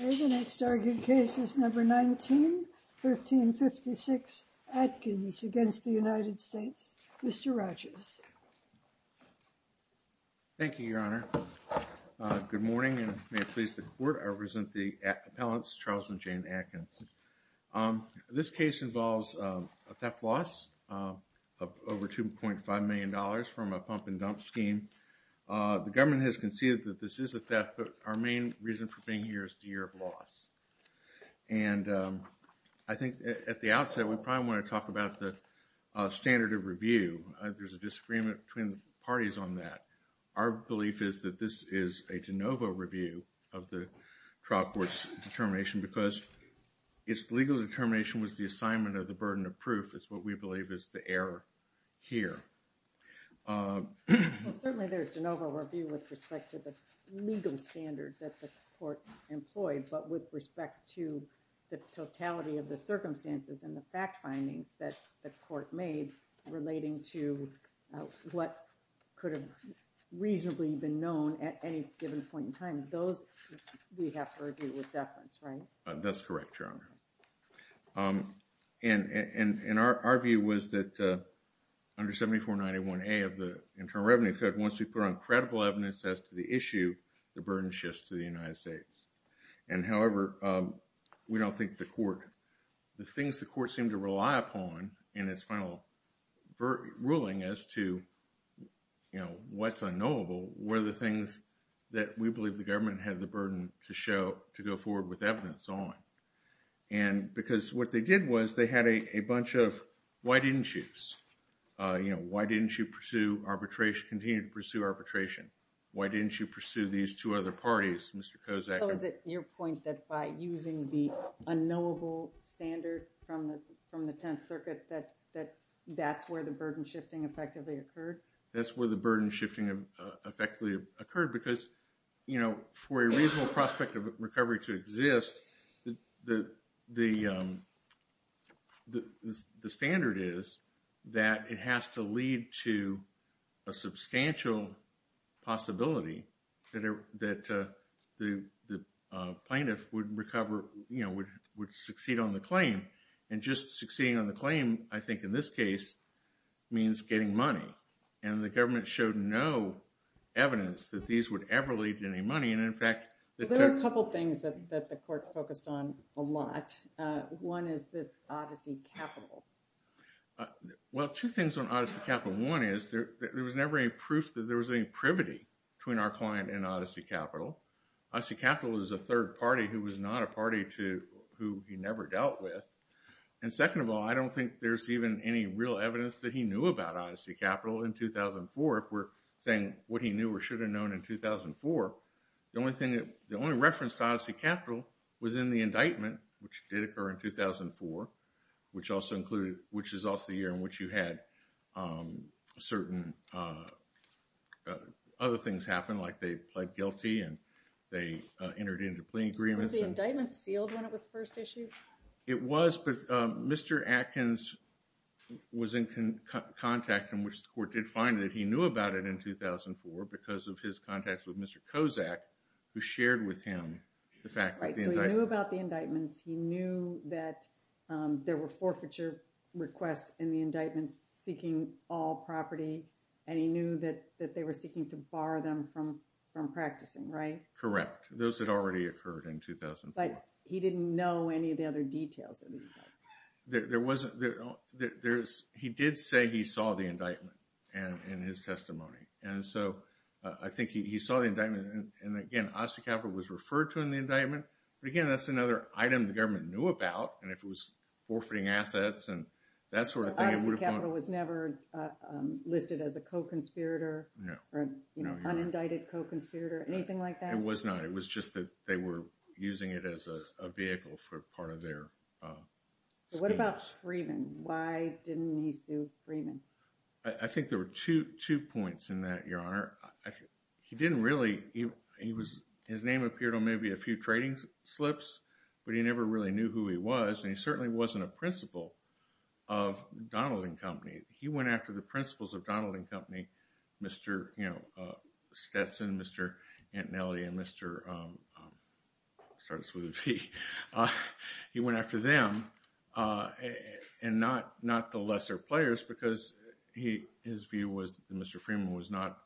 The next argued case is number 19, 1356 Atkins v. United States. Mr. Rogers. Thank you, Your Honor. Good morning, and may it please the Court, I present the appellants Charles and Jane Atkins. This case involves a theft loss of over $2.5 million from a pump and dump scheme. The government has conceded that this is a theft, but our main reason for being here is the year of loss. And I think at the outset we probably want to talk about the standard of review. There's a disagreement between the parties on that. Our belief is that this is a de novo review of the trial court's determination, because its legal determination was the assignment of the burden of proof is what we believe is the error here. Certainly there's de novo review with respect to the legal standard that the court employed, but with respect to the totality of the circumstances and the fact findings that the court made relating to what could have reasonably been known at any given point in time. Those we have to review with deference, right? That's correct, Your Honor. And our view was that under 7491A of the Internal Revenue Code, once we put on credible evidence as to the issue, the burden shifts to the United States. And however, we don't think the court, the things the court seemed to rely upon in its final ruling as to, you know, what's unknowable were the things that we believe the government had the burden to show, to go forward with evidence on. And because what they did was they had a bunch of, why didn't you? You know, why didn't you pursue arbitration, continue to pursue arbitration? Why didn't you pursue these two other parties, Mr. Kozak? So is it your point that by using the unknowable standard from the Tenth Circuit that that's where the burden shifting effectively occurred? That's where the burden shifting effectively occurred because, you know, for a reasonable prospect of recovery to exist, the standard is that it has to lead to a substantial possibility that the plaintiff would recover, you know, would succeed on the claim. And just succeeding on the claim, I think in this case, means getting money. And the government showed no evidence that these would ever lead to any money. There are a couple of things that the court focused on a lot. One is the Odyssey Capital. Well, two things on Odyssey Capital. One is there was never any proof that there was any privity between our client and Odyssey Capital. Odyssey Capital is a third party who was not a party who he never dealt with. And second of all, I don't think there's even any real evidence that he knew about Odyssey Capital in 2004. If we're saying what he knew or should have known in 2004, the only reference to Odyssey Capital was in the indictment, which did occur in 2004, which is also the year in which you had certain other things happen, like they pled guilty and they entered into plea agreements. Was the indictment sealed when it was first issued? It was, but Mr. Atkins was in contact in which the court did find that he knew about it in 2004 because of his contacts with Mr. Kozak, who shared with him the fact that the indictment... Right, so he knew about the indictments, he knew that there were forfeiture requests in the indictments seeking all property, and he knew that they were seeking to bar them from practicing, right? Correct. Those had already occurred in 2004. But he didn't know any of the other details of the indictment. He did say he saw the indictment in his testimony, and so I think he saw the indictment, and again, Odyssey Capital was referred to in the indictment, but again, that's another item the government knew about, and if it was forfeiting assets and that sort of thing... So Odyssey Capital was never listed as a co-conspirator or an unindicted co-conspirator, anything like that? It was not. It was just that they were using it as a vehicle for part of their schemes. What about Freeman? Why didn't he sue Freeman? I think there were two points in that, Your Honor. He didn't really... His name appeared on maybe a few trading slips, but he never really knew who he was, and he certainly wasn't a principal of Donald and Company. He went after the principals of Donald and Company, Mr. Stetson, Mr. Antonelli, and Mr... I'll start this with a T. He went after them and not the lesser players because his view was that Mr. Freeman was not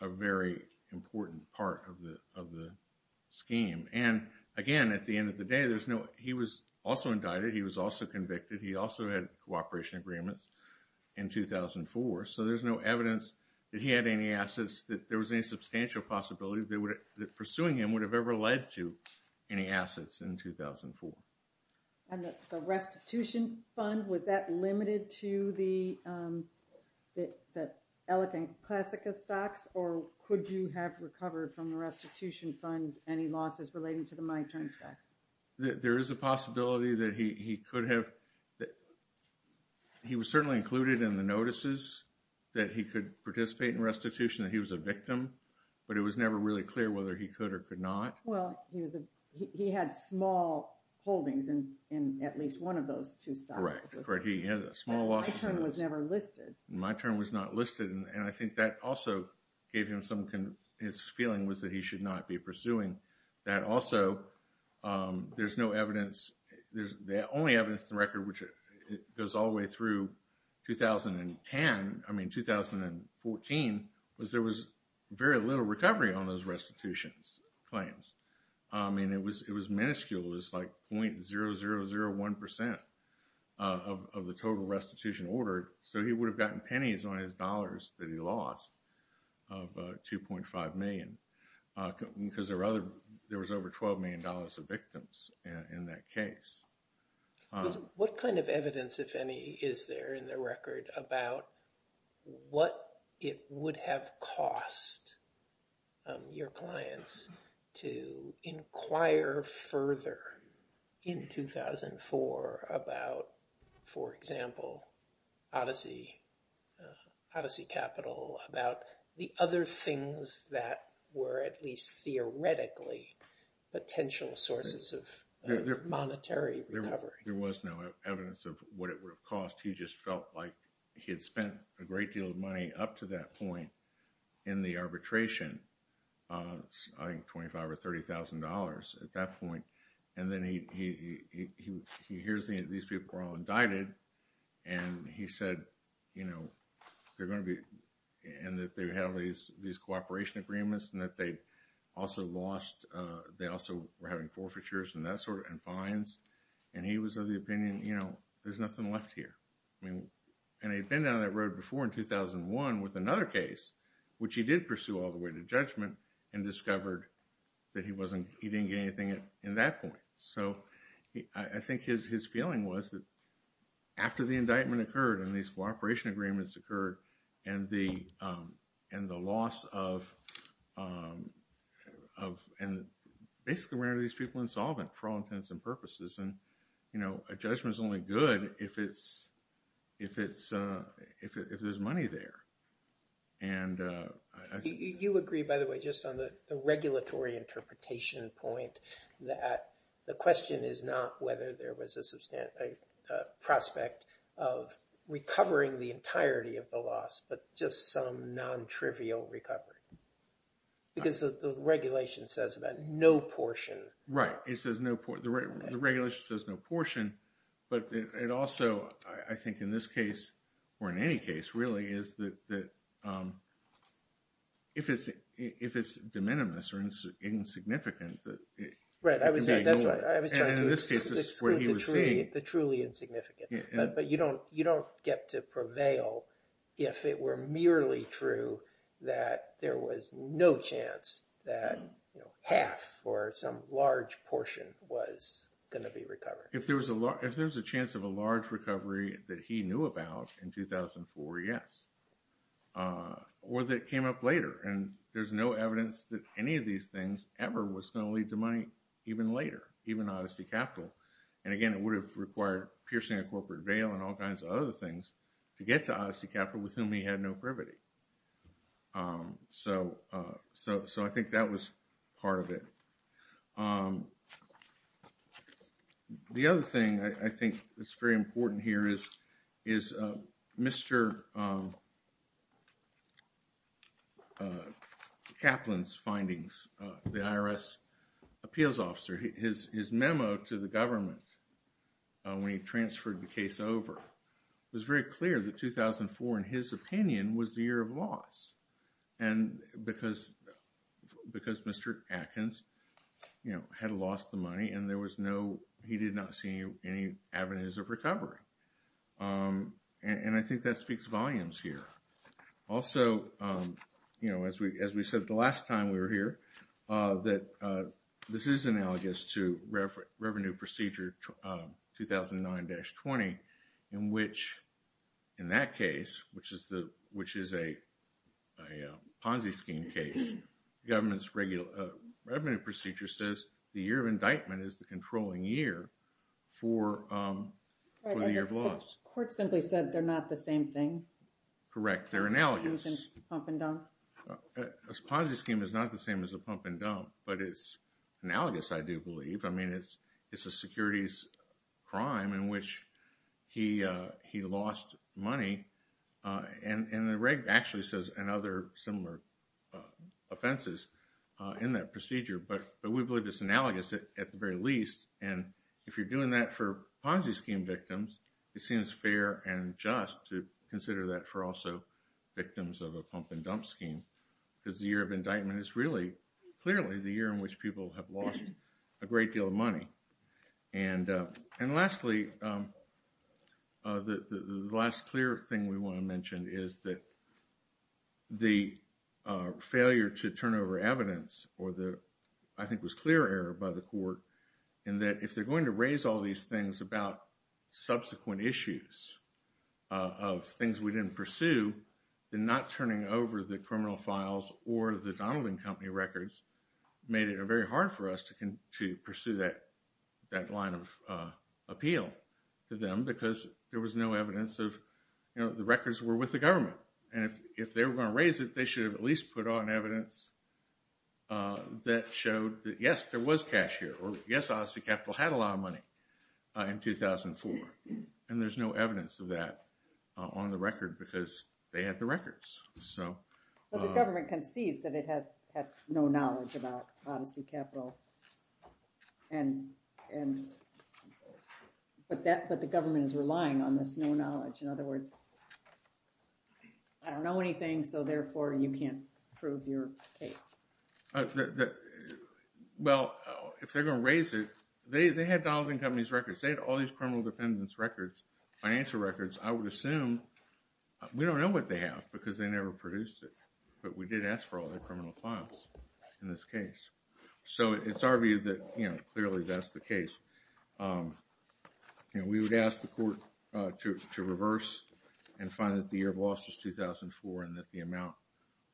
a very important part of the scheme. And again, at the end of the day, he was also indicted. He was also convicted. He also had cooperation agreements in 2004, so there's no evidence that he had any assets, that there was any substantial possibility that pursuing him would have ever led to any assets in 2004. And the restitution fund, was that limited to the Elephant Classica stocks, or could you have recovered from the restitution fund any losses relating to the money transfer? There is a possibility that he could have... He was certainly included in the notices that he could participate in restitution, that he was a victim, but it was never really clear whether he could or could not. Well, he had small holdings in at least one of those two stocks. Correct. He had small losses. My term was never listed. My term was not listed, and I think that also gave him some... His feeling was that he should not be pursuing that. Also, there's no evidence... The only evidence in the record, which goes all the way through 2010, I mean 2014, was there was very little recovery on those restitutions claims. I mean, it was minuscule. It was like 0.0001% of the total restitution ordered. So he would have gotten pennies on his dollars that he lost of $2.5 million, because there was over $12 million of victims in that case. What kind of evidence, if any, is there in the record about what it would have cost your clients to inquire further in 2004 about, for example, Odyssey Capital, about the other things that were at least theoretically potential sources of monetary recovery? There was no evidence of what it would have cost. He just felt like he had spent a great deal of money up to that point in the arbitration of, I think, $25,000 or $30,000 at that point. And then he hears these people are all indicted, and he said, you know, they're going to be... and that they have these cooperation agreements, and that they also lost... they also were having forfeitures and fines. And he was of the opinion, you know, there's nothing left here. And he'd been down that road before in 2001 with another case, which he did pursue all the way to judgment, and discovered that he wasn't... he didn't get anything in that point. So I think his feeling was that after the indictment occurred and these cooperation agreements occurred, and the loss of... and basically, where are these people insolvent for all intents and purposes? And, you know, a judgment's only good if it's... if there's money there. And I think... You agree, by the way, just on the regulatory interpretation point, that the question is not whether there was a prospect of recovering the entirety of the loss, but just some non-trivial recovery. Because the regulation says about no portion. Right. It says no... the regulation says no portion, but it also, I think, in this case, or in any case, really, is that if it's de minimis or insignificant... Right, that's right. I was trying to exclude the truly insignificant. But you don't get to prevail if it were merely true that there was no chance that half or some large portion was going to be recovered. If there's a chance of a large recovery that he knew about in 2004, yes. Or that came up later, and there's no evidence that any of these things ever was going to lead to money even later, even Odyssey Capital. And again, it would have required piercing a corporate bail and all kinds of other things to get to Odyssey Capital with whom he had no privity. So I think that was part of it. The other thing I think that's very important here is Mr. Kaplan's findings. The IRS appeals officer, his memo to the government when he transferred the case over was very clear that 2004, in his opinion, was the year of loss. And because Mr. Atkins had lost the money and he did not see any avenues of recovery. And I think that speaks volumes here. Also, as we said the last time we were here, that this is analogous to Revenue Procedure 2009-20 in which, in that case, which is a Ponzi scheme case, the government's Revenue Procedure says the year of indictment is the controlling year for the year of loss. The court simply said they're not the same thing. Correct, they're analogous. Ponzi scheme is not the same as a pump and dump. But it's analogous, I do believe. I mean, it's a securities crime in which he lost money. And the reg actually says and other similar offenses in that procedure. But we believe it's analogous at the very least. And if you're doing that for Ponzi scheme victims, it seems fair and just to consider that for also victims of a pump and dump scheme. Because the year of indictment is really clearly the year in which people have lost a great deal of money. And lastly, the last clear thing we want to mention is that the failure to turn over evidence, or the, I think it was clear error by the court, in that if they're going to raise all these things about subsequent issues of things we didn't pursue, then not turning over the criminal files or the Donald and Company records made it very hard for us to pursue that line of appeal to them. Because there was no evidence of, you know, the records were with the government. And if they were going to raise it, they should have at least put on evidence that showed that yes, there was cash here. Or yes, Odyssey Capital had a lot of money in 2004. And there's no evidence of that on the record because they had the records. But the government concedes that it had no knowledge about Odyssey Capital. But the government is relying on this no knowledge. In other words, I don't know anything, so therefore you can't prove your case. Well, if they're going to raise it, they had Donald and Company's records. They had all these criminal defendants' records, financial records. I would assume, we don't know what they have because they never produced it. But we did ask for all their criminal files in this case. So it's our view that, you know, clearly that's the case. You know, we would ask the court to reverse and find that the year of loss was 2004. And that the amount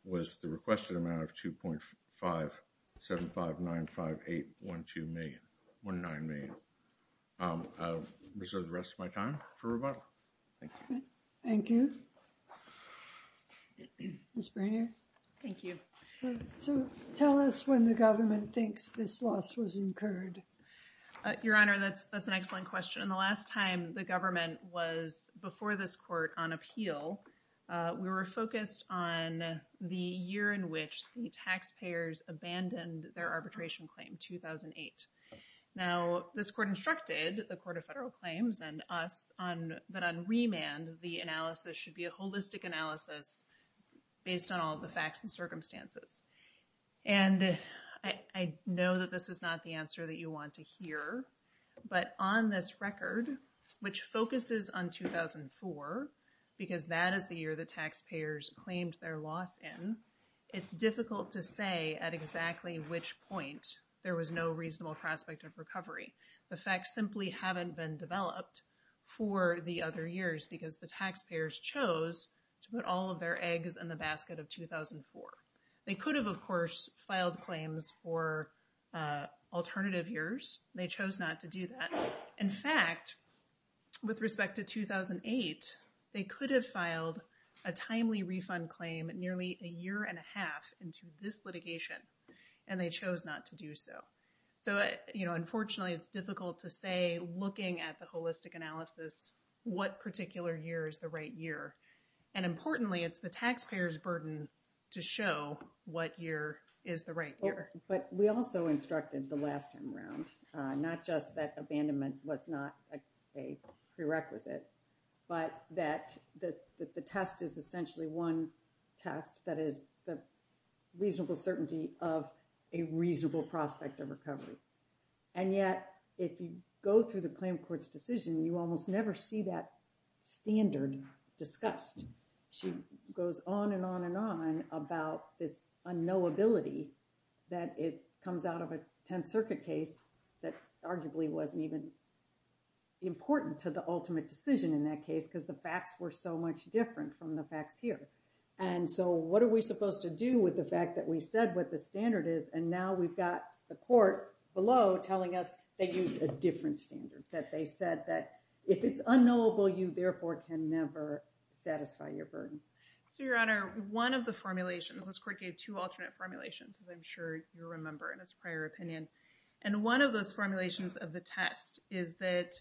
was the requested amount of $2.57595819 million. I'll reserve the rest of my time for rebuttal. Thank you. Thank you. Ms. Brainerd. Thank you. So tell us when the government thinks this loss was incurred. Your Honor, that's an excellent question. And the last time the government was before this court on appeal, we were focused on the year in which the taxpayers abandoned their arbitration claim, 2008. Now, this court instructed the Court of Federal Claims and us that on remand, the analysis should be a holistic analysis based on all the facts and circumstances. And I know that this is not the answer that you want to hear. But on this record, which focuses on 2004, because that is the year the taxpayers claimed their loss in, it's difficult to say at exactly which point there was no reasonable prospect of recovery. The facts simply haven't been developed for the other years because the taxpayers chose to put all of their eggs in the basket of 2004. They could have, of course, filed claims for alternative years. They chose not to do that. In fact, with respect to 2008, they could have filed a timely refund claim nearly a year and a half into this litigation, and they chose not to do so. So, you know, unfortunately, it's difficult to say, looking at the holistic analysis, what particular year is the right year. And importantly, it's the taxpayers' burden to show what year is the right year. But we also instructed the last time around, not just that abandonment was not a prerequisite, but that the test is essentially one test, that is the reasonable certainty of a reasonable prospect of recovery. And yet, if you go through the claim court's decision, you almost never see that standard discussed. She goes on and on and on about this unknowability that it comes out of a Tenth Circuit case that arguably wasn't even important to the ultimate decision in that case because the facts were so much different from the facts here. And so what are we supposed to do with the fact that we said what the standard is, and now we've got the court below telling us they used a different standard, that they said that if it's unknowable, you therefore can never satisfy your burden. So, Your Honor, one of the formulations, this court gave two alternate formulations, as I'm sure you remember in its prior opinion. And one of those formulations of the test is that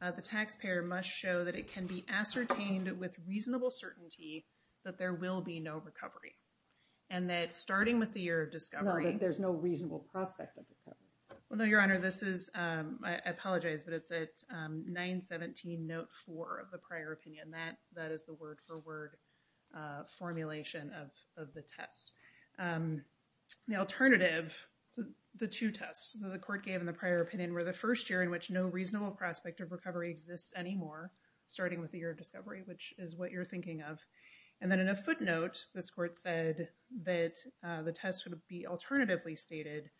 the taxpayer must show that it can be ascertained with reasonable certainty that there will be no recovery. And that starting with the year of discovery... No, that there's no reasonable prospect of recovery. Well, no, Your Honor, this is, I apologize, but it's at 917, note 4 of the prior opinion. That is the word-for-word formulation of the test. The alternative, the two tests that the court gave in the prior opinion were the first year in which no reasonable prospect of recovery exists anymore, starting with the year of discovery, which is what you're thinking of. And then in a footnote, this court said that the test would be alternatively stated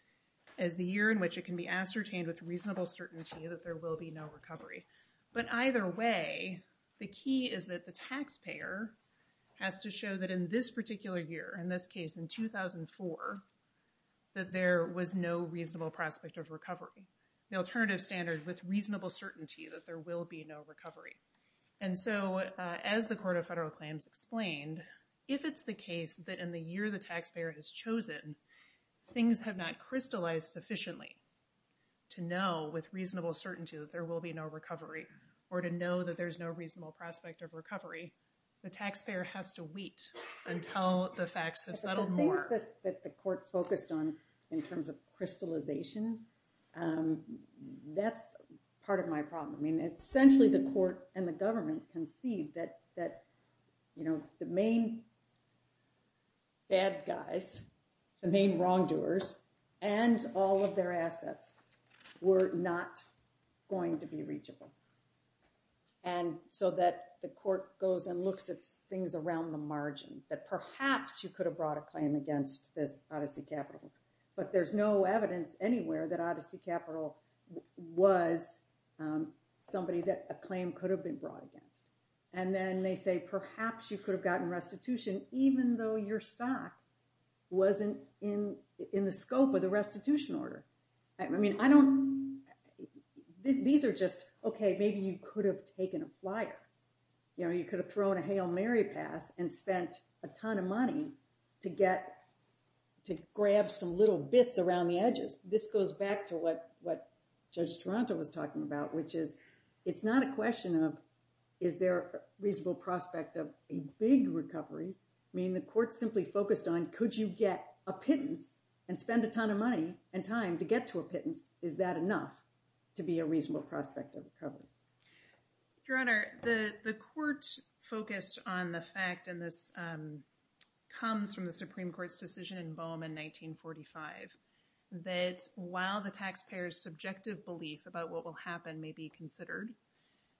as the year in which it can be ascertained with reasonable certainty that there will be no recovery. But either way, the key is that the taxpayer has to show that in this particular year, in this case in 2004, that there was no reasonable prospect of recovery. The alternative standard, with reasonable certainty that there will be no recovery. And so, as the Court of Federal Claims explained, if it's the case that in the year the taxpayer has chosen, things have not crystallized sufficiently to know with reasonable certainty that there will be no recovery, or to know that there's no reasonable prospect of recovery, the taxpayer has to wait until the facts have settled more. The things that the court focused on in terms of crystallization, that's part of my problem. Essentially, the court and the government conceived that the main bad guys, the main wrongdoers, and all of their assets were not going to be reachable. And so that the court goes and looks at things around the margin, that perhaps you could have brought a claim against this Odyssey Capital. But there's no evidence anywhere that Odyssey Capital was somebody that a claim could have been brought against. And then they say, perhaps you could have gotten restitution, even though your stock wasn't in the scope of the restitution order. I mean, I don't, these are just, okay, maybe you could have taken a flyer. You could have thrown a Hail Mary pass and spent a ton of money to grab some little bits around the edges. This goes back to what Judge Toronto was talking about, which is, it's not a question of, is there a reasonable prospect of a big recovery? I mean, the court simply focused on, could you get a pittance and spend a ton of money and time to get to a pittance? Is that enough to be a reasonable prospect of recovery? Your Honor, the court focused on the fact, and this comes from the Supreme Court's decision in Boehm in 1945, that while the taxpayer's subjective belief about what will happen may be considered,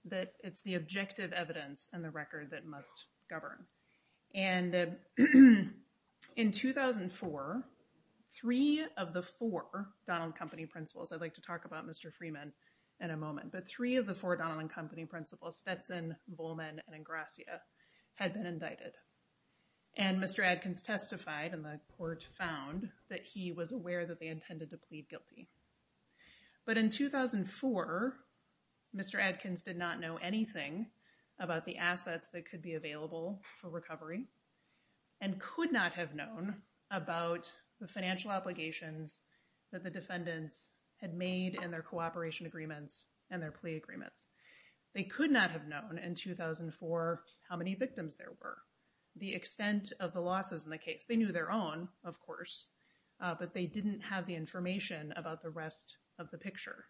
that it's the objective evidence and the record that must govern. And in 2004, three of the four Donald Company principals, I'd like to talk about Mr. Freeman in a moment, but three of the four Donald and Company principals, Stetson, Volman, and Ingrassia, had been indicted. And Mr. Adkins testified, and the court found that he was aware that they intended to plead guilty. But in 2004, Mr. Adkins did not know anything about the assets that could be available for recovery, and could not have known about the financial obligations that the defendants had made in their cooperation agreements and their plea agreements. They could not have known in 2004 how many victims there were, the extent of the losses in the case. They knew their own, of course, but they didn't have the information about the rest of the picture.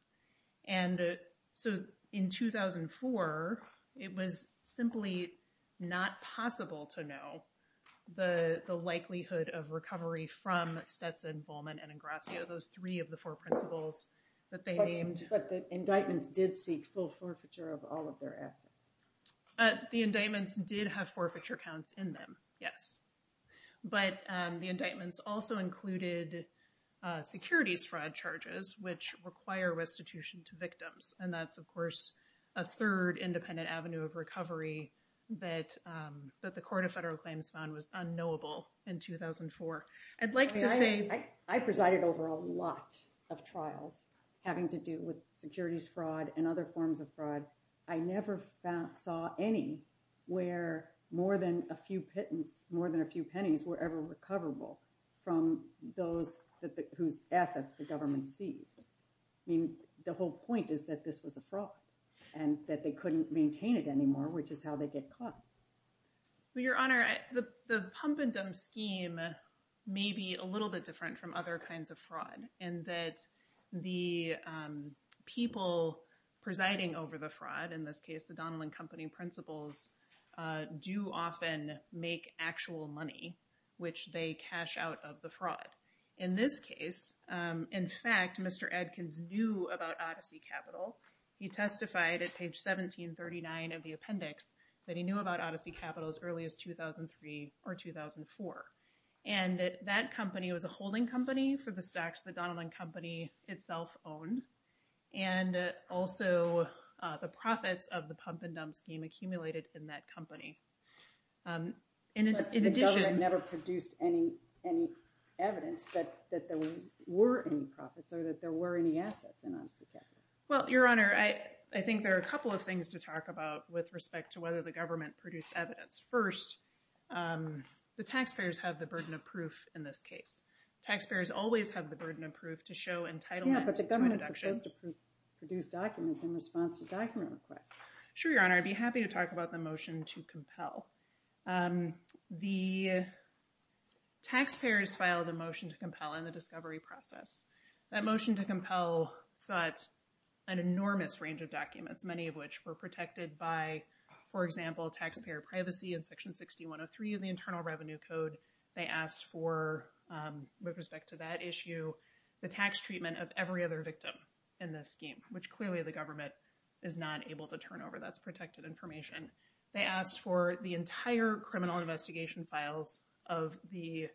And so in 2004, it was simply not possible to know the likelihood of recovery from Stetson, Volman, and Ingrassia, those three of the four principals that they named. But the indictments did seek full forfeiture of all of their assets. The indictments did have forfeiture counts in them, yes. But the indictments also included securities fraud charges, which require restitution to victims. And that's, of course, a third independent avenue of recovery that the Court of Federal Claims found was unknowable in 2004. I presided over a lot of trials having to do with securities fraud and other forms of fraud. I never saw any where more than a few pennies were ever recoverable from those whose assets the government seized. I mean, the whole point is that this was a fraud and that they couldn't maintain it anymore, which is how they get caught. Well, Your Honor, the pump and dump scheme may be a little bit different from other kinds of fraud in that the people presiding over the fraud, in this case, the Donnellan Company principals, do often make actual money, which they cash out of the fraud. In this case, in fact, Mr. Adkins knew about Odyssey Capital. He testified at page 1739 of the appendix that he knew about Odyssey Capital as early as 2003 or 2004. And that company was a holding company for the stocks the Donnellan Company itself owned, and also the profits of the pump and dump scheme accumulated in that company. But the government never produced any evidence that there were any profits or that there were any assets in Odyssey Capital. Well, Your Honor, I think there are a couple of things to talk about with respect to whether the government produced evidence. First, the taxpayers have the burden of proof in this case. Taxpayers always have the burden of proof to show entitlement to a deduction. Yeah, but the government's supposed to produce documents in response to document requests. Sure, Your Honor. I'd be happy to talk about the motion to compel. The taxpayers filed a motion to compel in the discovery process. That motion to compel sought an enormous range of documents, many of which were protected by, for example, taxpayer privacy in Section 6103 of the Internal Revenue Code. They asked for, with respect to that issue, the tax treatment of every other victim in this scheme, which clearly the government is not able to turn over. That's protected information. They asked for the entire criminal investigation files of the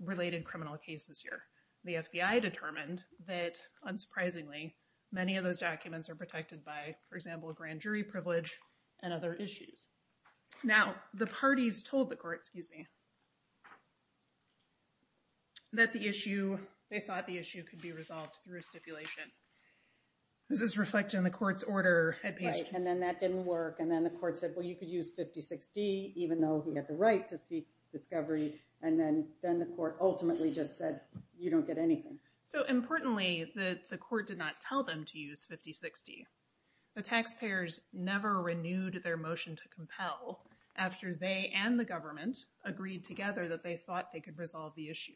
related criminal cases here. The FBI determined that, unsurprisingly, many of those documents are protected by, for example, grand jury privilege and other issues. Now, the parties told the court, excuse me, that the issue, they thought the issue could be resolved through a stipulation. This is reflected in the court's order. Right, and then that didn't work, and then the court said, well, you could use 50-60, even though he had the right to seek discovery. And then the court ultimately just said, you don't get anything. So, importantly, the court did not tell them to use 50-60. The taxpayers never renewed their motion to compel after they and the government agreed together that they thought they could resolve the issue.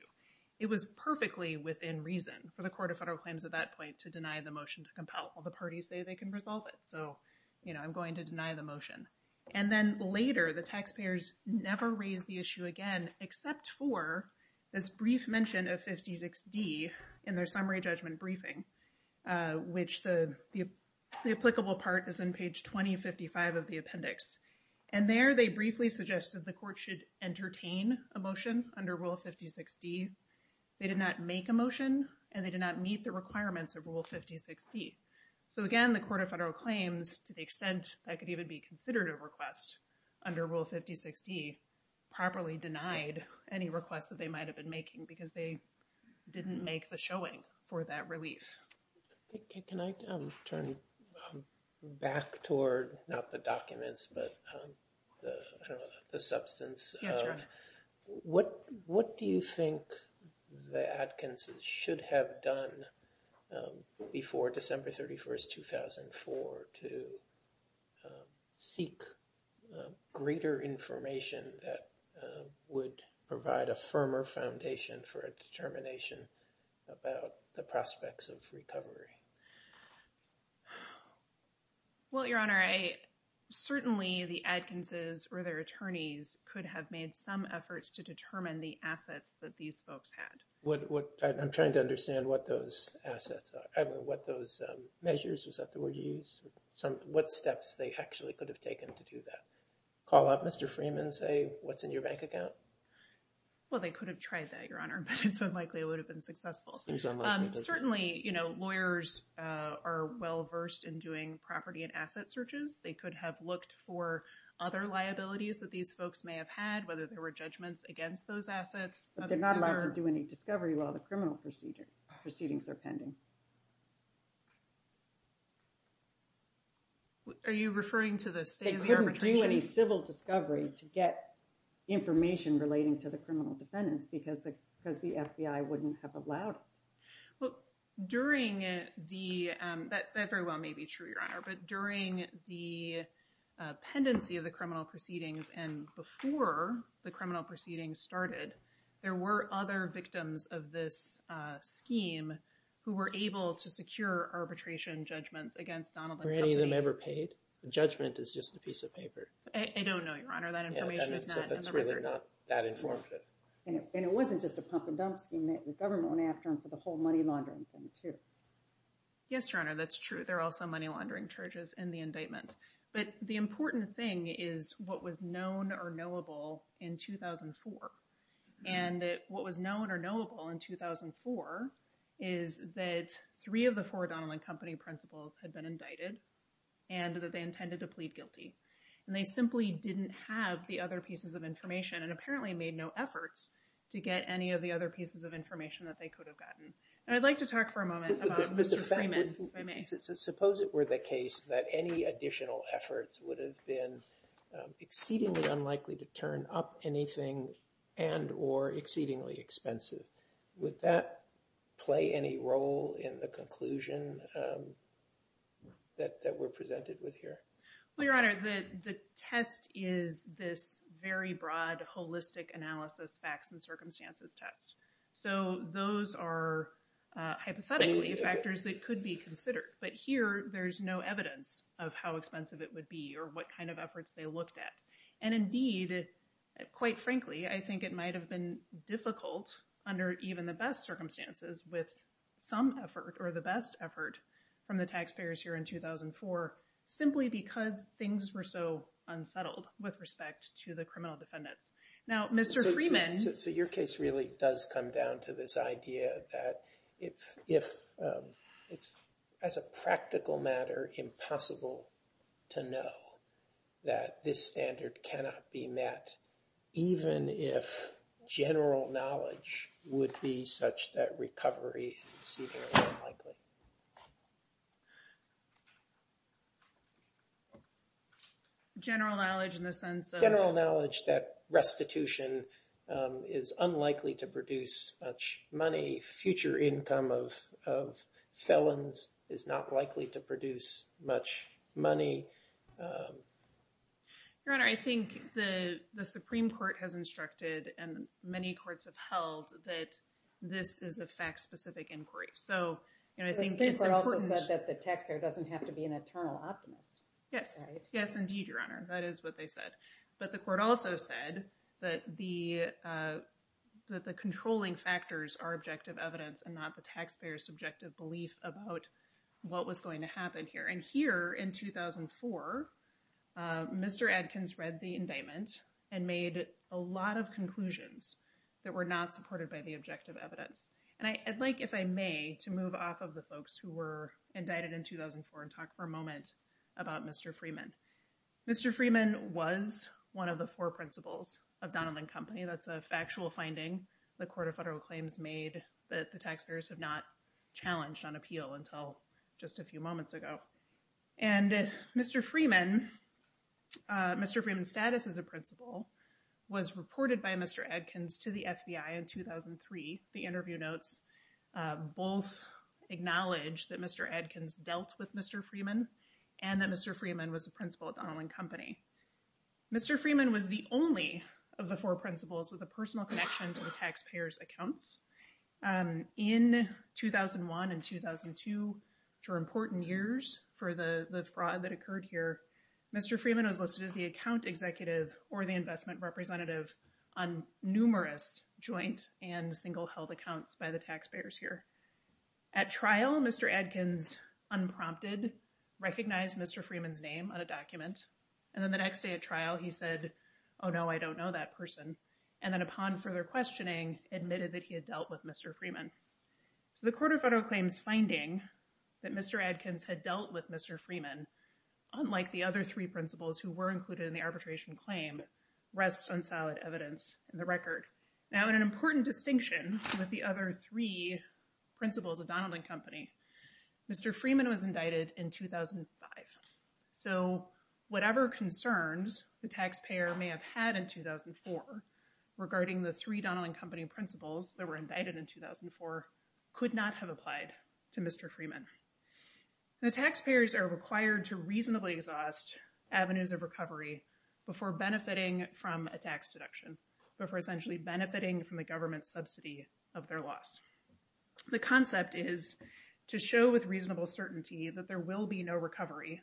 It was perfectly within reason for the Court of Federal Claims at that point to deny the motion to compel. Well, the parties say they can resolve it, so, you know, I'm going to deny the motion. And then later, the taxpayers never raised the issue again, except for this brief mention of 50-60 in their summary judgment briefing, which the applicable part is in page 2055 of the appendix. And there, they briefly suggested the court should entertain a motion under Rule 50-60. They did not make a motion, and they did not meet the requirements of Rule 50-60. So, again, the Court of Federal Claims, to the extent that could even be considered a request under Rule 50-60, properly denied any requests that they might have been making because they didn't make the showing for that relief. Can I turn back toward not the documents, but the substance? What do you think the Adkinses should have done before December 31, 2004, to seek greater information that would provide a firmer foundation for a determination about the prospects of recovery? Well, Your Honor, certainly the Adkinses or their attorneys could have made some efforts to determine the assets that these folks had. I'm trying to understand what those assets are, what those measures, is that the word you use? What steps they actually could have taken to do that? Call up Mr. Freeman and say, what's in your bank account? Well, they could have tried that, Your Honor, but it's unlikely it would have been successful. Certainly, you know, lawyers are well-versed in doing property and asset searches. They could have looked for other liabilities that these folks may have had, whether there were judgments against those assets. But they're not allowed to do any discovery while the criminal proceedings are pending. Are you referring to the state of the arbitration? They couldn't do any civil discovery to get information relating to the criminal defendants because the FBI wouldn't have allowed it. Well, during the, that very well may be true, Your Honor, but during the pendency of the criminal proceedings and before the criminal proceedings started, there were other victims of this scheme who were able to secure arbitration judgments against Donald and company. Were any of them ever paid? Judgment is just a piece of paper. I don't know, Your Honor, that information is not in the record. That's really not that informative. And it wasn't just a pump and dump scheme that the government went after them for the whole money laundering thing too. Yes, Your Honor, that's true. There are also money laundering charges in the indictment. But the important thing is what was known or knowable in 2004. And what was known or knowable in 2004 is that three of the four Donald and company principals had been indicted and that they intended to plead guilty. And they simply didn't have the other pieces of information and apparently made no efforts to get any of the other pieces of information that they could have gotten. And I'd like to talk for a moment about Mr. Freeman, if I may. Suppose it were the case that any additional efforts would have been exceedingly unlikely to turn up anything and or exceedingly expensive. Would that play any role in the conclusion that we're presented with here? Well, Your Honor, the test is this very broad, holistic analysis, facts and circumstances test. So those are hypothetically factors that could be considered. But here there's no evidence of how expensive it would be or what kind of efforts they looked at. And indeed, quite frankly, I think it might have been difficult under even the best circumstances with some effort or the best effort from the taxpayers here in 2004. Simply because things were so unsettled with respect to the criminal defendants. Now, Mr. Freeman. So your case really does come down to this idea that if it's as a practical matter, impossible to know that this standard cannot be met, even if general knowledge would be such that recovery is exceedingly unlikely. General knowledge in the sense of? General knowledge that restitution is unlikely to produce much money. Future income of felons is not likely to produce much money. Your Honor, I think the Supreme Court has instructed and many courts have held that this is a fact specific inquiry. So, you know, I think it's important that the taxpayer doesn't have to be an eternal optimist. Yes, yes, indeed. Your Honor. That is what they said. But the court also said that the that the controlling factors are objective evidence and not the taxpayer subjective belief about what was going to happen here. And here in 2004, Mr. Adkins read the indictment and made a lot of conclusions that were not supported by the objective evidence. And I'd like, if I may, to move off of the folks who were indicted in 2004 and talk for a moment about Mr. Freeman. Mr. Freeman was one of the four principals of Donovan Company. That's a factual finding. The Court of Federal Claims made that the taxpayers have not challenged on appeal until just a few moments ago. And Mr. Freeman, Mr. Freeman's status as a principal was reported by Mr. Adkins to the FBI in 2003. The interview notes both acknowledge that Mr. Adkins dealt with Mr. Freeman and that Mr. Freeman was a principal at Donovan Company. Mr. Freeman was the only of the four principals with a personal connection to the taxpayers accounts. In 2001 and 2002, which were important years for the fraud that occurred here, Mr. Freeman was listed as the account executive or the investment representative on numerous joint and single held accounts by the taxpayers here. At trial, Mr. Adkins unprompted recognized Mr. Freeman's name on a document. And then the next day at trial, he said, oh, no, I don't know that person. And then upon further questioning, admitted that he had dealt with Mr. Freeman. So the Court of Federal Claims finding that Mr. Adkins had dealt with Mr. Freeman, unlike the other three principals who were included in the arbitration claim, rests on solid evidence in the record. Now, in an important distinction with the other three principals of Donovan Company, Mr. Freeman was indicted in 2005. So whatever concerns the taxpayer may have had in 2004 regarding the three Donovan Company principals that were indicted in 2004 could not have applied to Mr. Freeman. The taxpayers are required to reasonably exhaust avenues of recovery before benefiting from a tax deduction, before essentially benefiting from the government subsidy of their loss. The concept is to show with reasonable certainty that there will be no recovery,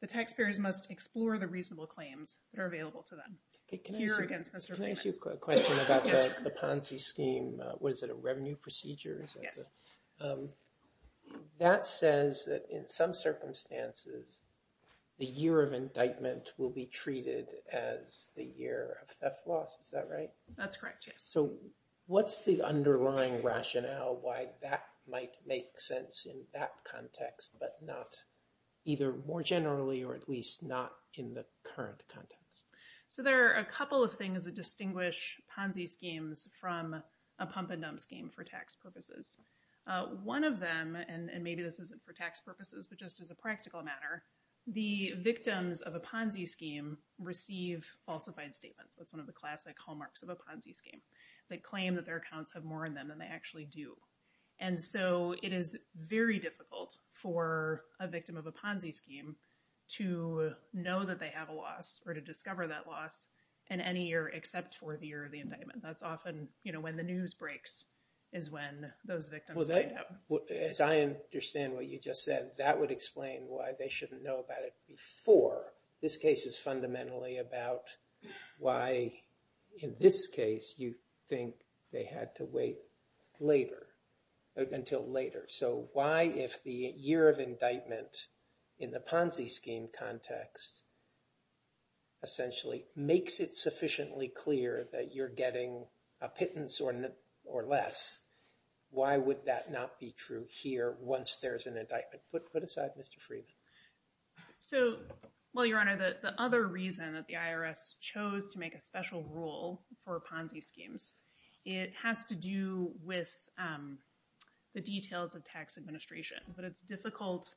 the taxpayers must explore the reasonable claims that are available to them. Can I ask you a question about the Ponzi scheme? Was it a revenue procedure? Yes. That says that in some circumstances, the year of indictment will be treated as the year of theft loss. Is that right? That's correct, yes. So what's the underlying rationale why that might make sense in that context, but not either more generally or at least not in the current context? So there are a couple of things that distinguish Ponzi schemes from a pump and dump scheme for tax purposes. One of them, and maybe this isn't for tax purposes, but just as a practical matter, the victims of a Ponzi scheme receive falsified statements. That's one of the classic hallmarks of a Ponzi scheme. They claim that their accounts have more in them than they actually do. And so it is very difficult for a victim of a Ponzi scheme to know that they have a loss or to discover that loss in any year except for the year of the indictment. That's often when the news breaks is when those victims find out. As I understand what you just said, that would explain why they shouldn't know about it before. This case is fundamentally about why in this case you think they had to wait until later. So why if the year of indictment in the Ponzi scheme context essentially makes it sufficiently clear that you're getting a pittance or less, why would that not be true here once there's an indictment? Put aside, Mr. Freeman. Well, Your Honor, the other reason that the IRS chose to make a special rule for Ponzi schemes, it has to do with the details of tax administration. But it's difficult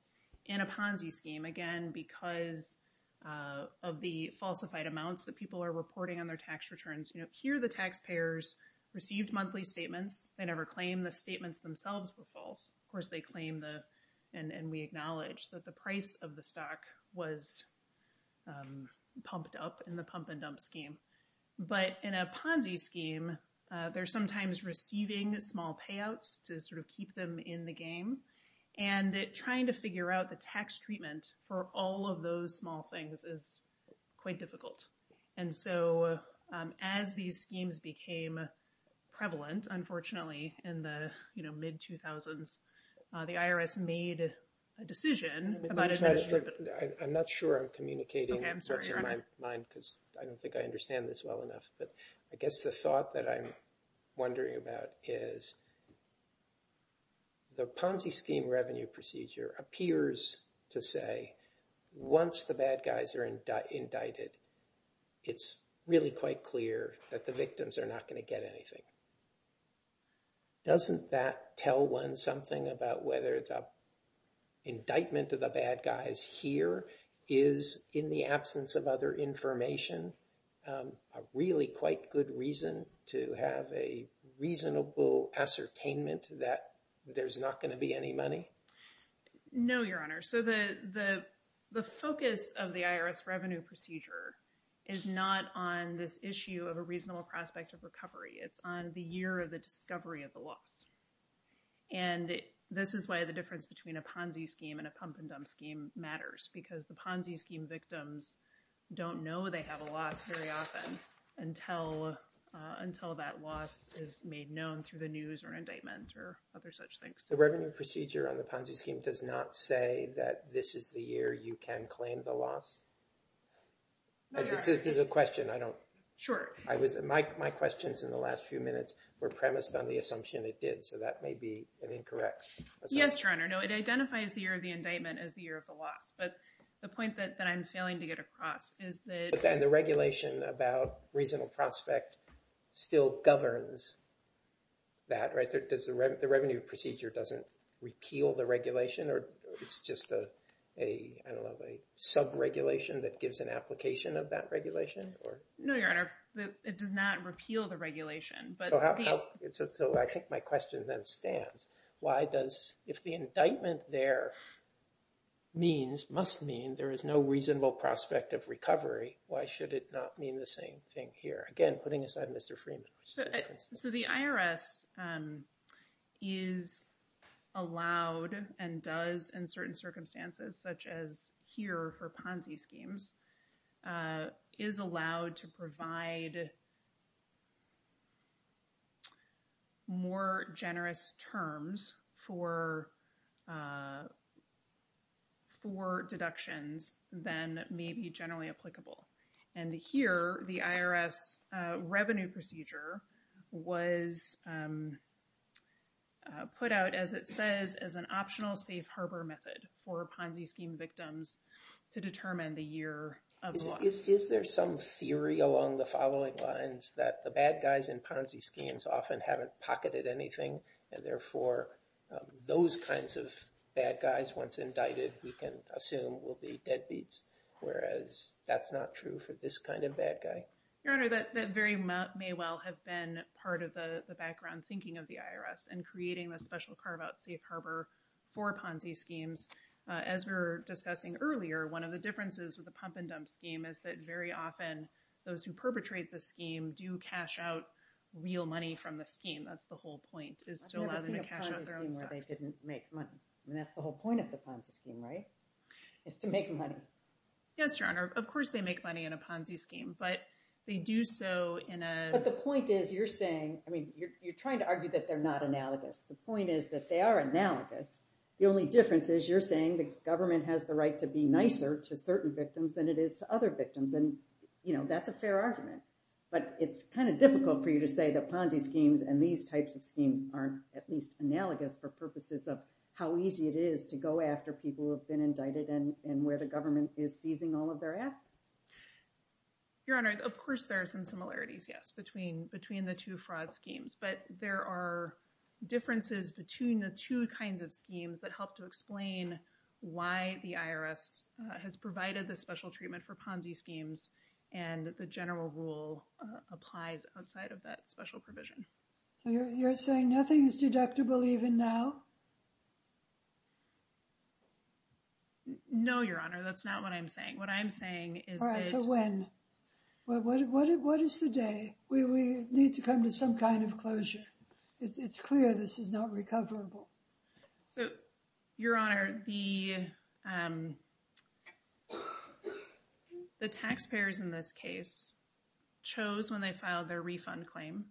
in a Ponzi scheme, again, because of the falsified amounts that people are reporting on their tax returns. Here the taxpayers received monthly statements. They never claimed the statements themselves were false. Of course, they claim and we acknowledge that the price of the stock was pumped up in the pump and dump scheme. But in a Ponzi scheme, they're sometimes receiving small payouts to sort of keep them in the game. And trying to figure out the tax treatment for all of those small things is quite difficult. And so as these schemes became prevalent, unfortunately, in the mid-2000s, the IRS made a decision about administration. I'm not sure I'm communicating the rest of my mind because I don't think I understand this well enough. But I guess the thought that I'm wondering about is the Ponzi scheme revenue procedure appears to say once the bad guys are indicted, it's really quite clear that the victims are not going to get anything. Doesn't that tell one something about whether the indictment of the bad guys here is in the absence of other information? A really quite good reason to have a reasonable ascertainment that there's not going to be any money? No, Your Honor. So the focus of the IRS revenue procedure is not on this issue of a reasonable prospect of recovery. It's on the year of the discovery of the loss. And this is why the difference between a Ponzi scheme and a pump and dump scheme matters. Because the Ponzi scheme victims don't know they have a loss very often until that loss is made known through the news or indictment or other such things. The revenue procedure on the Ponzi scheme does not say that this is the year you can claim the loss? No, Your Honor. This is a question. I don't – my questions in the last few minutes were premised on the assumption it did. So that may be an incorrect assumption. Yes, Your Honor. No, it identifies the year of the indictment as the year of the loss. But the point that I'm failing to get across is that – But then the regulation about reasonable prospect still governs that, right? The revenue procedure doesn't repeal the regulation or it's just a – I don't know – a sub-regulation that gives an application of that regulation? No, Your Honor. It does not repeal the regulation. So I think my question then stands. Why does – if the indictment there means, must mean, there is no reasonable prospect of recovery, why should it not mean the same thing here? Again, putting aside Mr. Freeman. So the IRS is allowed and does in certain circumstances, such as here for Ponzi schemes, is allowed to provide more generous terms for – for deductions than may be generally applicable. And here, the IRS revenue procedure was put out, as it says, as an optional safe harbor method for Ponzi scheme victims to determine the year of the loss. Is there some theory along the following lines that the bad guys in Ponzi schemes often haven't pocketed anything, and therefore those kinds of bad guys, once indicted, we can assume will be deadbeats, whereas that's not true for this kind of bad guy? Your Honor, that very – may well have been part of the background thinking of the IRS in creating the special carve-out safe harbor for Ponzi schemes. As we were discussing earlier, one of the differences with the pump-and-dump scheme is that very often those who perpetrate the scheme do cash out real money from the scheme. That's the whole point, is to allow them to cash out their own stuff. I've never seen a Ponzi scheme where they didn't make money. I mean, that's the whole point of the Ponzi scheme, right? Is to make money. Yes, Your Honor. Of course they make money in a Ponzi scheme, but they do so in a – But the point is, you're saying – I mean, you're trying to argue that they're not analogous. The point is that they are analogous. The only difference is you're saying the government has the right to be nicer to certain victims than it is to other victims, and, you know, that's a fair argument. But it's kind of difficult for you to say that Ponzi schemes and these types of schemes are at least analogous for purposes of how easy it is to go after people who have been indicted and where the government is seizing all of their assets. Your Honor, of course there are some similarities, yes, between the two fraud schemes. But there are differences between the two kinds of schemes that help to explain why the IRS has provided the special treatment for Ponzi schemes and the general rule applies outside of that special provision. You're saying nothing is deductible even now? No, Your Honor, that's not what I'm saying. What I'm saying is that – All right, so when? What is the day? We need to come to some kind of closure. It's clear this is not recoverable. So, Your Honor, the taxpayers in this case chose when they filed their refund claim,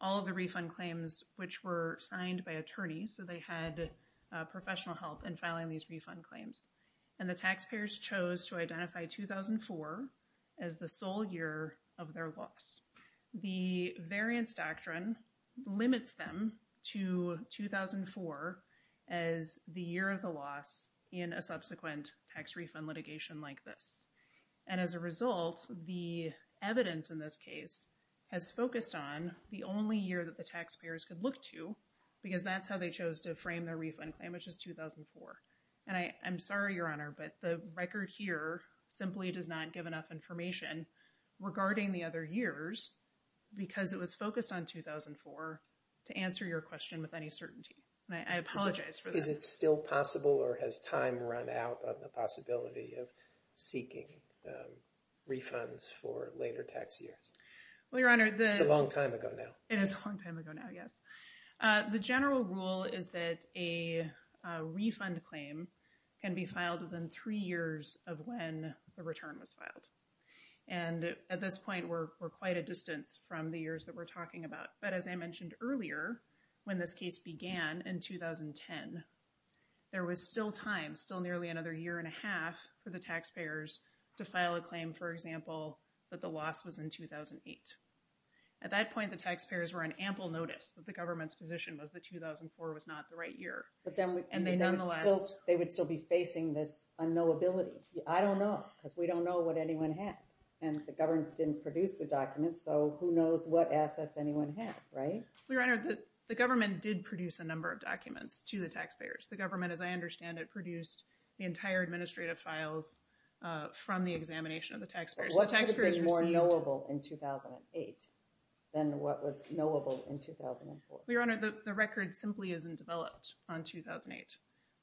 all of the refund claims which were signed by attorneys, so they had professional help in filing these refund claims. And the taxpayers chose to identify 2004 as the sole year of their loss. The variance doctrine limits them to 2004 as the year of the loss in a subsequent tax refund litigation like this. And as a result, the evidence in this case has focused on the only year that the taxpayers could look to because that's how they chose to frame their refund claim, which is 2004. And I'm sorry, Your Honor, but the record here simply does not give enough information regarding the other years because it was focused on 2004 to answer your question with any certainty. And I apologize for that. Is it still possible or has time run out on the possibility of seeking refunds for later tax years? Well, Your Honor, the – It's a long time ago now. It is a long time ago now, yes. The general rule is that a refund claim can be filed within three years of when the return was filed. And at this point, we're quite a distance from the years that we're talking about. But as I mentioned earlier, when this case began in 2010, there was still time, still nearly another year and a half for the taxpayers to file a claim, for example, that the loss was in 2008. At that point, the taxpayers were on ample notice that the government's position was that 2004 was not the right year. But then – And they nonetheless – They would still be facing this unknowability. I don't know because we don't know what anyone had. And the government didn't produce the documents, so who knows what assets anyone had, right? Well, Your Honor, the government did produce a number of documents to the taxpayers. The government, as I understand it, produced the entire administrative files from the examination of the taxpayers. What would have been more knowable in 2008 than what was knowable in 2004? Well, Your Honor, the record simply isn't developed on 2008.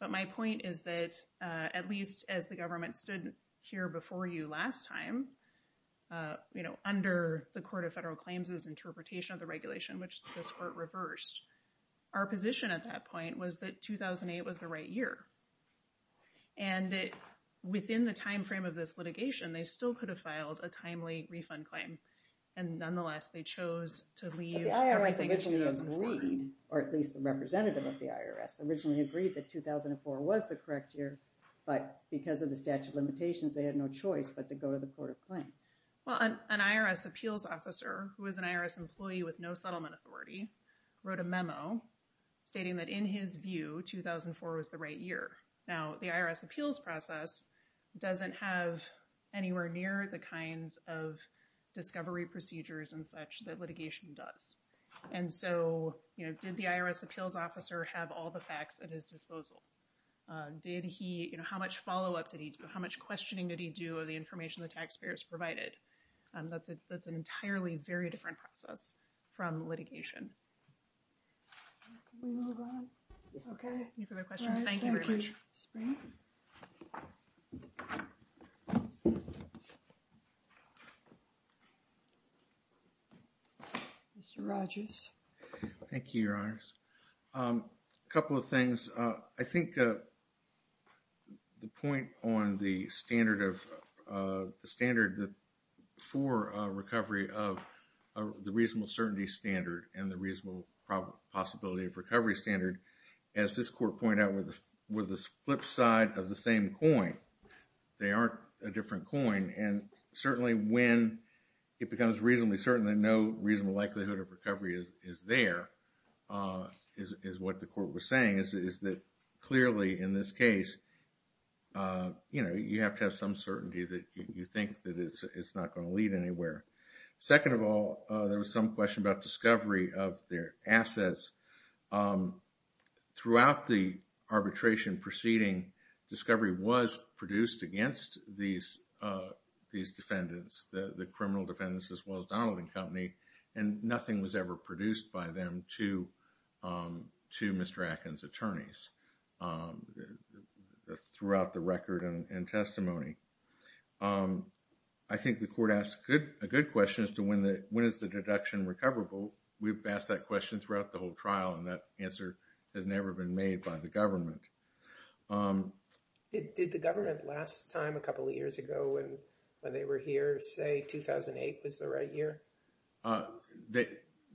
But my point is that at least as the government stood here before you last time, you know, under the Court of Federal Claims' interpretation of the regulation, which this Court reversed, our position at that point was that 2008 was the right year. And within the timeframe of this litigation, they still could have filed a timely refund claim. And nonetheless, they chose to leave – But the IRS originally agreed, or at least the representative of the IRS originally agreed that 2004 was the correct year. But because of the statute of limitations, they had no choice but to go to the Court of Claims. Well, an IRS appeals officer who was an IRS employee with no settlement authority wrote a memo stating that in his view, 2004 was the right year. Now, the IRS appeals process doesn't have anywhere near the kinds of discovery procedures and such that litigation does. And so, you know, did the IRS appeals officer have all the facts at his disposal? Did he – you know, how much follow-up did he do? How much questioning did he do of the information the taxpayers provided? That's an entirely very different process from litigation. Can we move on? Okay. Any further questions? Mr. Rogers. Thank you, Your Honors. A couple of things. I think the point on the standard of – the standard for recovery of the reasonable certainty standard and the reasonable possibility of recovery standard, as this Court pointed out, were the flip side of the same coin. They aren't a different coin. And certainly when it becomes reasonably certain that no reasonable likelihood of recovery is there, is what the Court was saying, is that clearly in this case, you know, you have to have some certainty that you think that it's not going to lead anywhere. Second of all, there was some question about discovery of their assets. Throughout the arbitration proceeding, discovery was produced against these defendants, the criminal defendants as well as Donald and Company, and nothing was ever produced by them to Mr. Atkins' attorneys throughout the record and testimony. I think the Court asked a good question as to when is the deduction recoverable. We've asked that question throughout the whole trial, and that answer has never been made by the government. Did the government last time a couple of years ago when they were here say 2008 was the right year?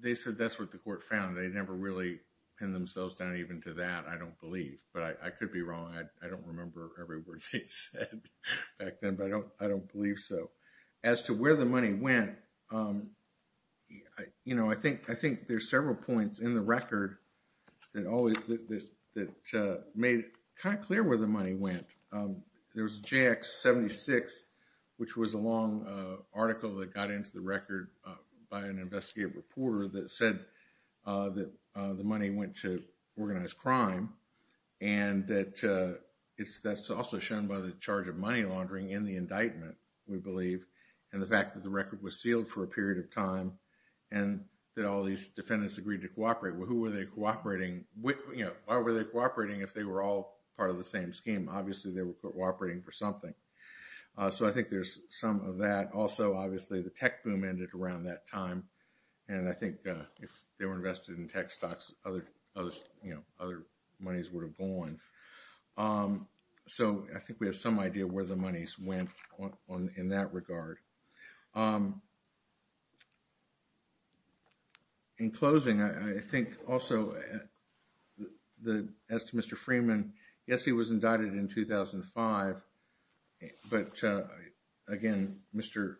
They said that's what the Court found. They never really pinned themselves down even to that, I don't believe. But I could be wrong. I don't remember every word they said back then, but I don't believe so. As to where the money went, you know, I think there's several points in the record that made it kind of clear where the money went. There was JX-76, which was a long article that got into the record by an investigative reporter that said that the money went to organized crime, and that's also shown by the charge of money laundering in the indictment, we believe, and the fact that the record was sealed for a period of time and that all these defendants agreed to cooperate. Well, who were they cooperating with? Why were they cooperating if they were all part of the same scheme? Obviously, they were cooperating for something. So I think there's some of that. Also, obviously, the tech boom ended around that time, and I think if they were invested in tech stocks, other monies would have gone. So I think we have some idea where the monies went in that regard. In closing, I think also, as to Mr. Freeman, yes, he was indicted in 2005, but again, Mr.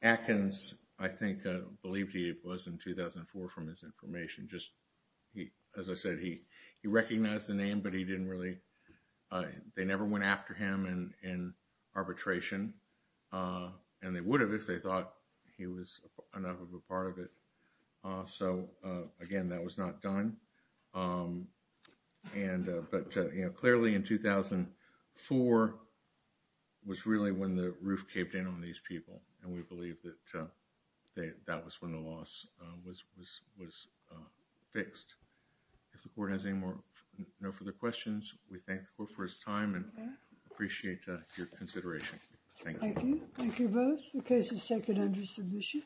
Atkins, I think, believed he was in 2004 from his information. As I said, he recognized the name, but they never went after him in arbitration, and they would have if they thought he was enough of a part of it. So again, that was not done. But clearly in 2004 was really when the roof caved in on these people, and we believe that that was when the loss was fixed. If the court has no further questions, we thank the court for its time and appreciate your consideration. Thank you. Thank you both. The case is taken under submission.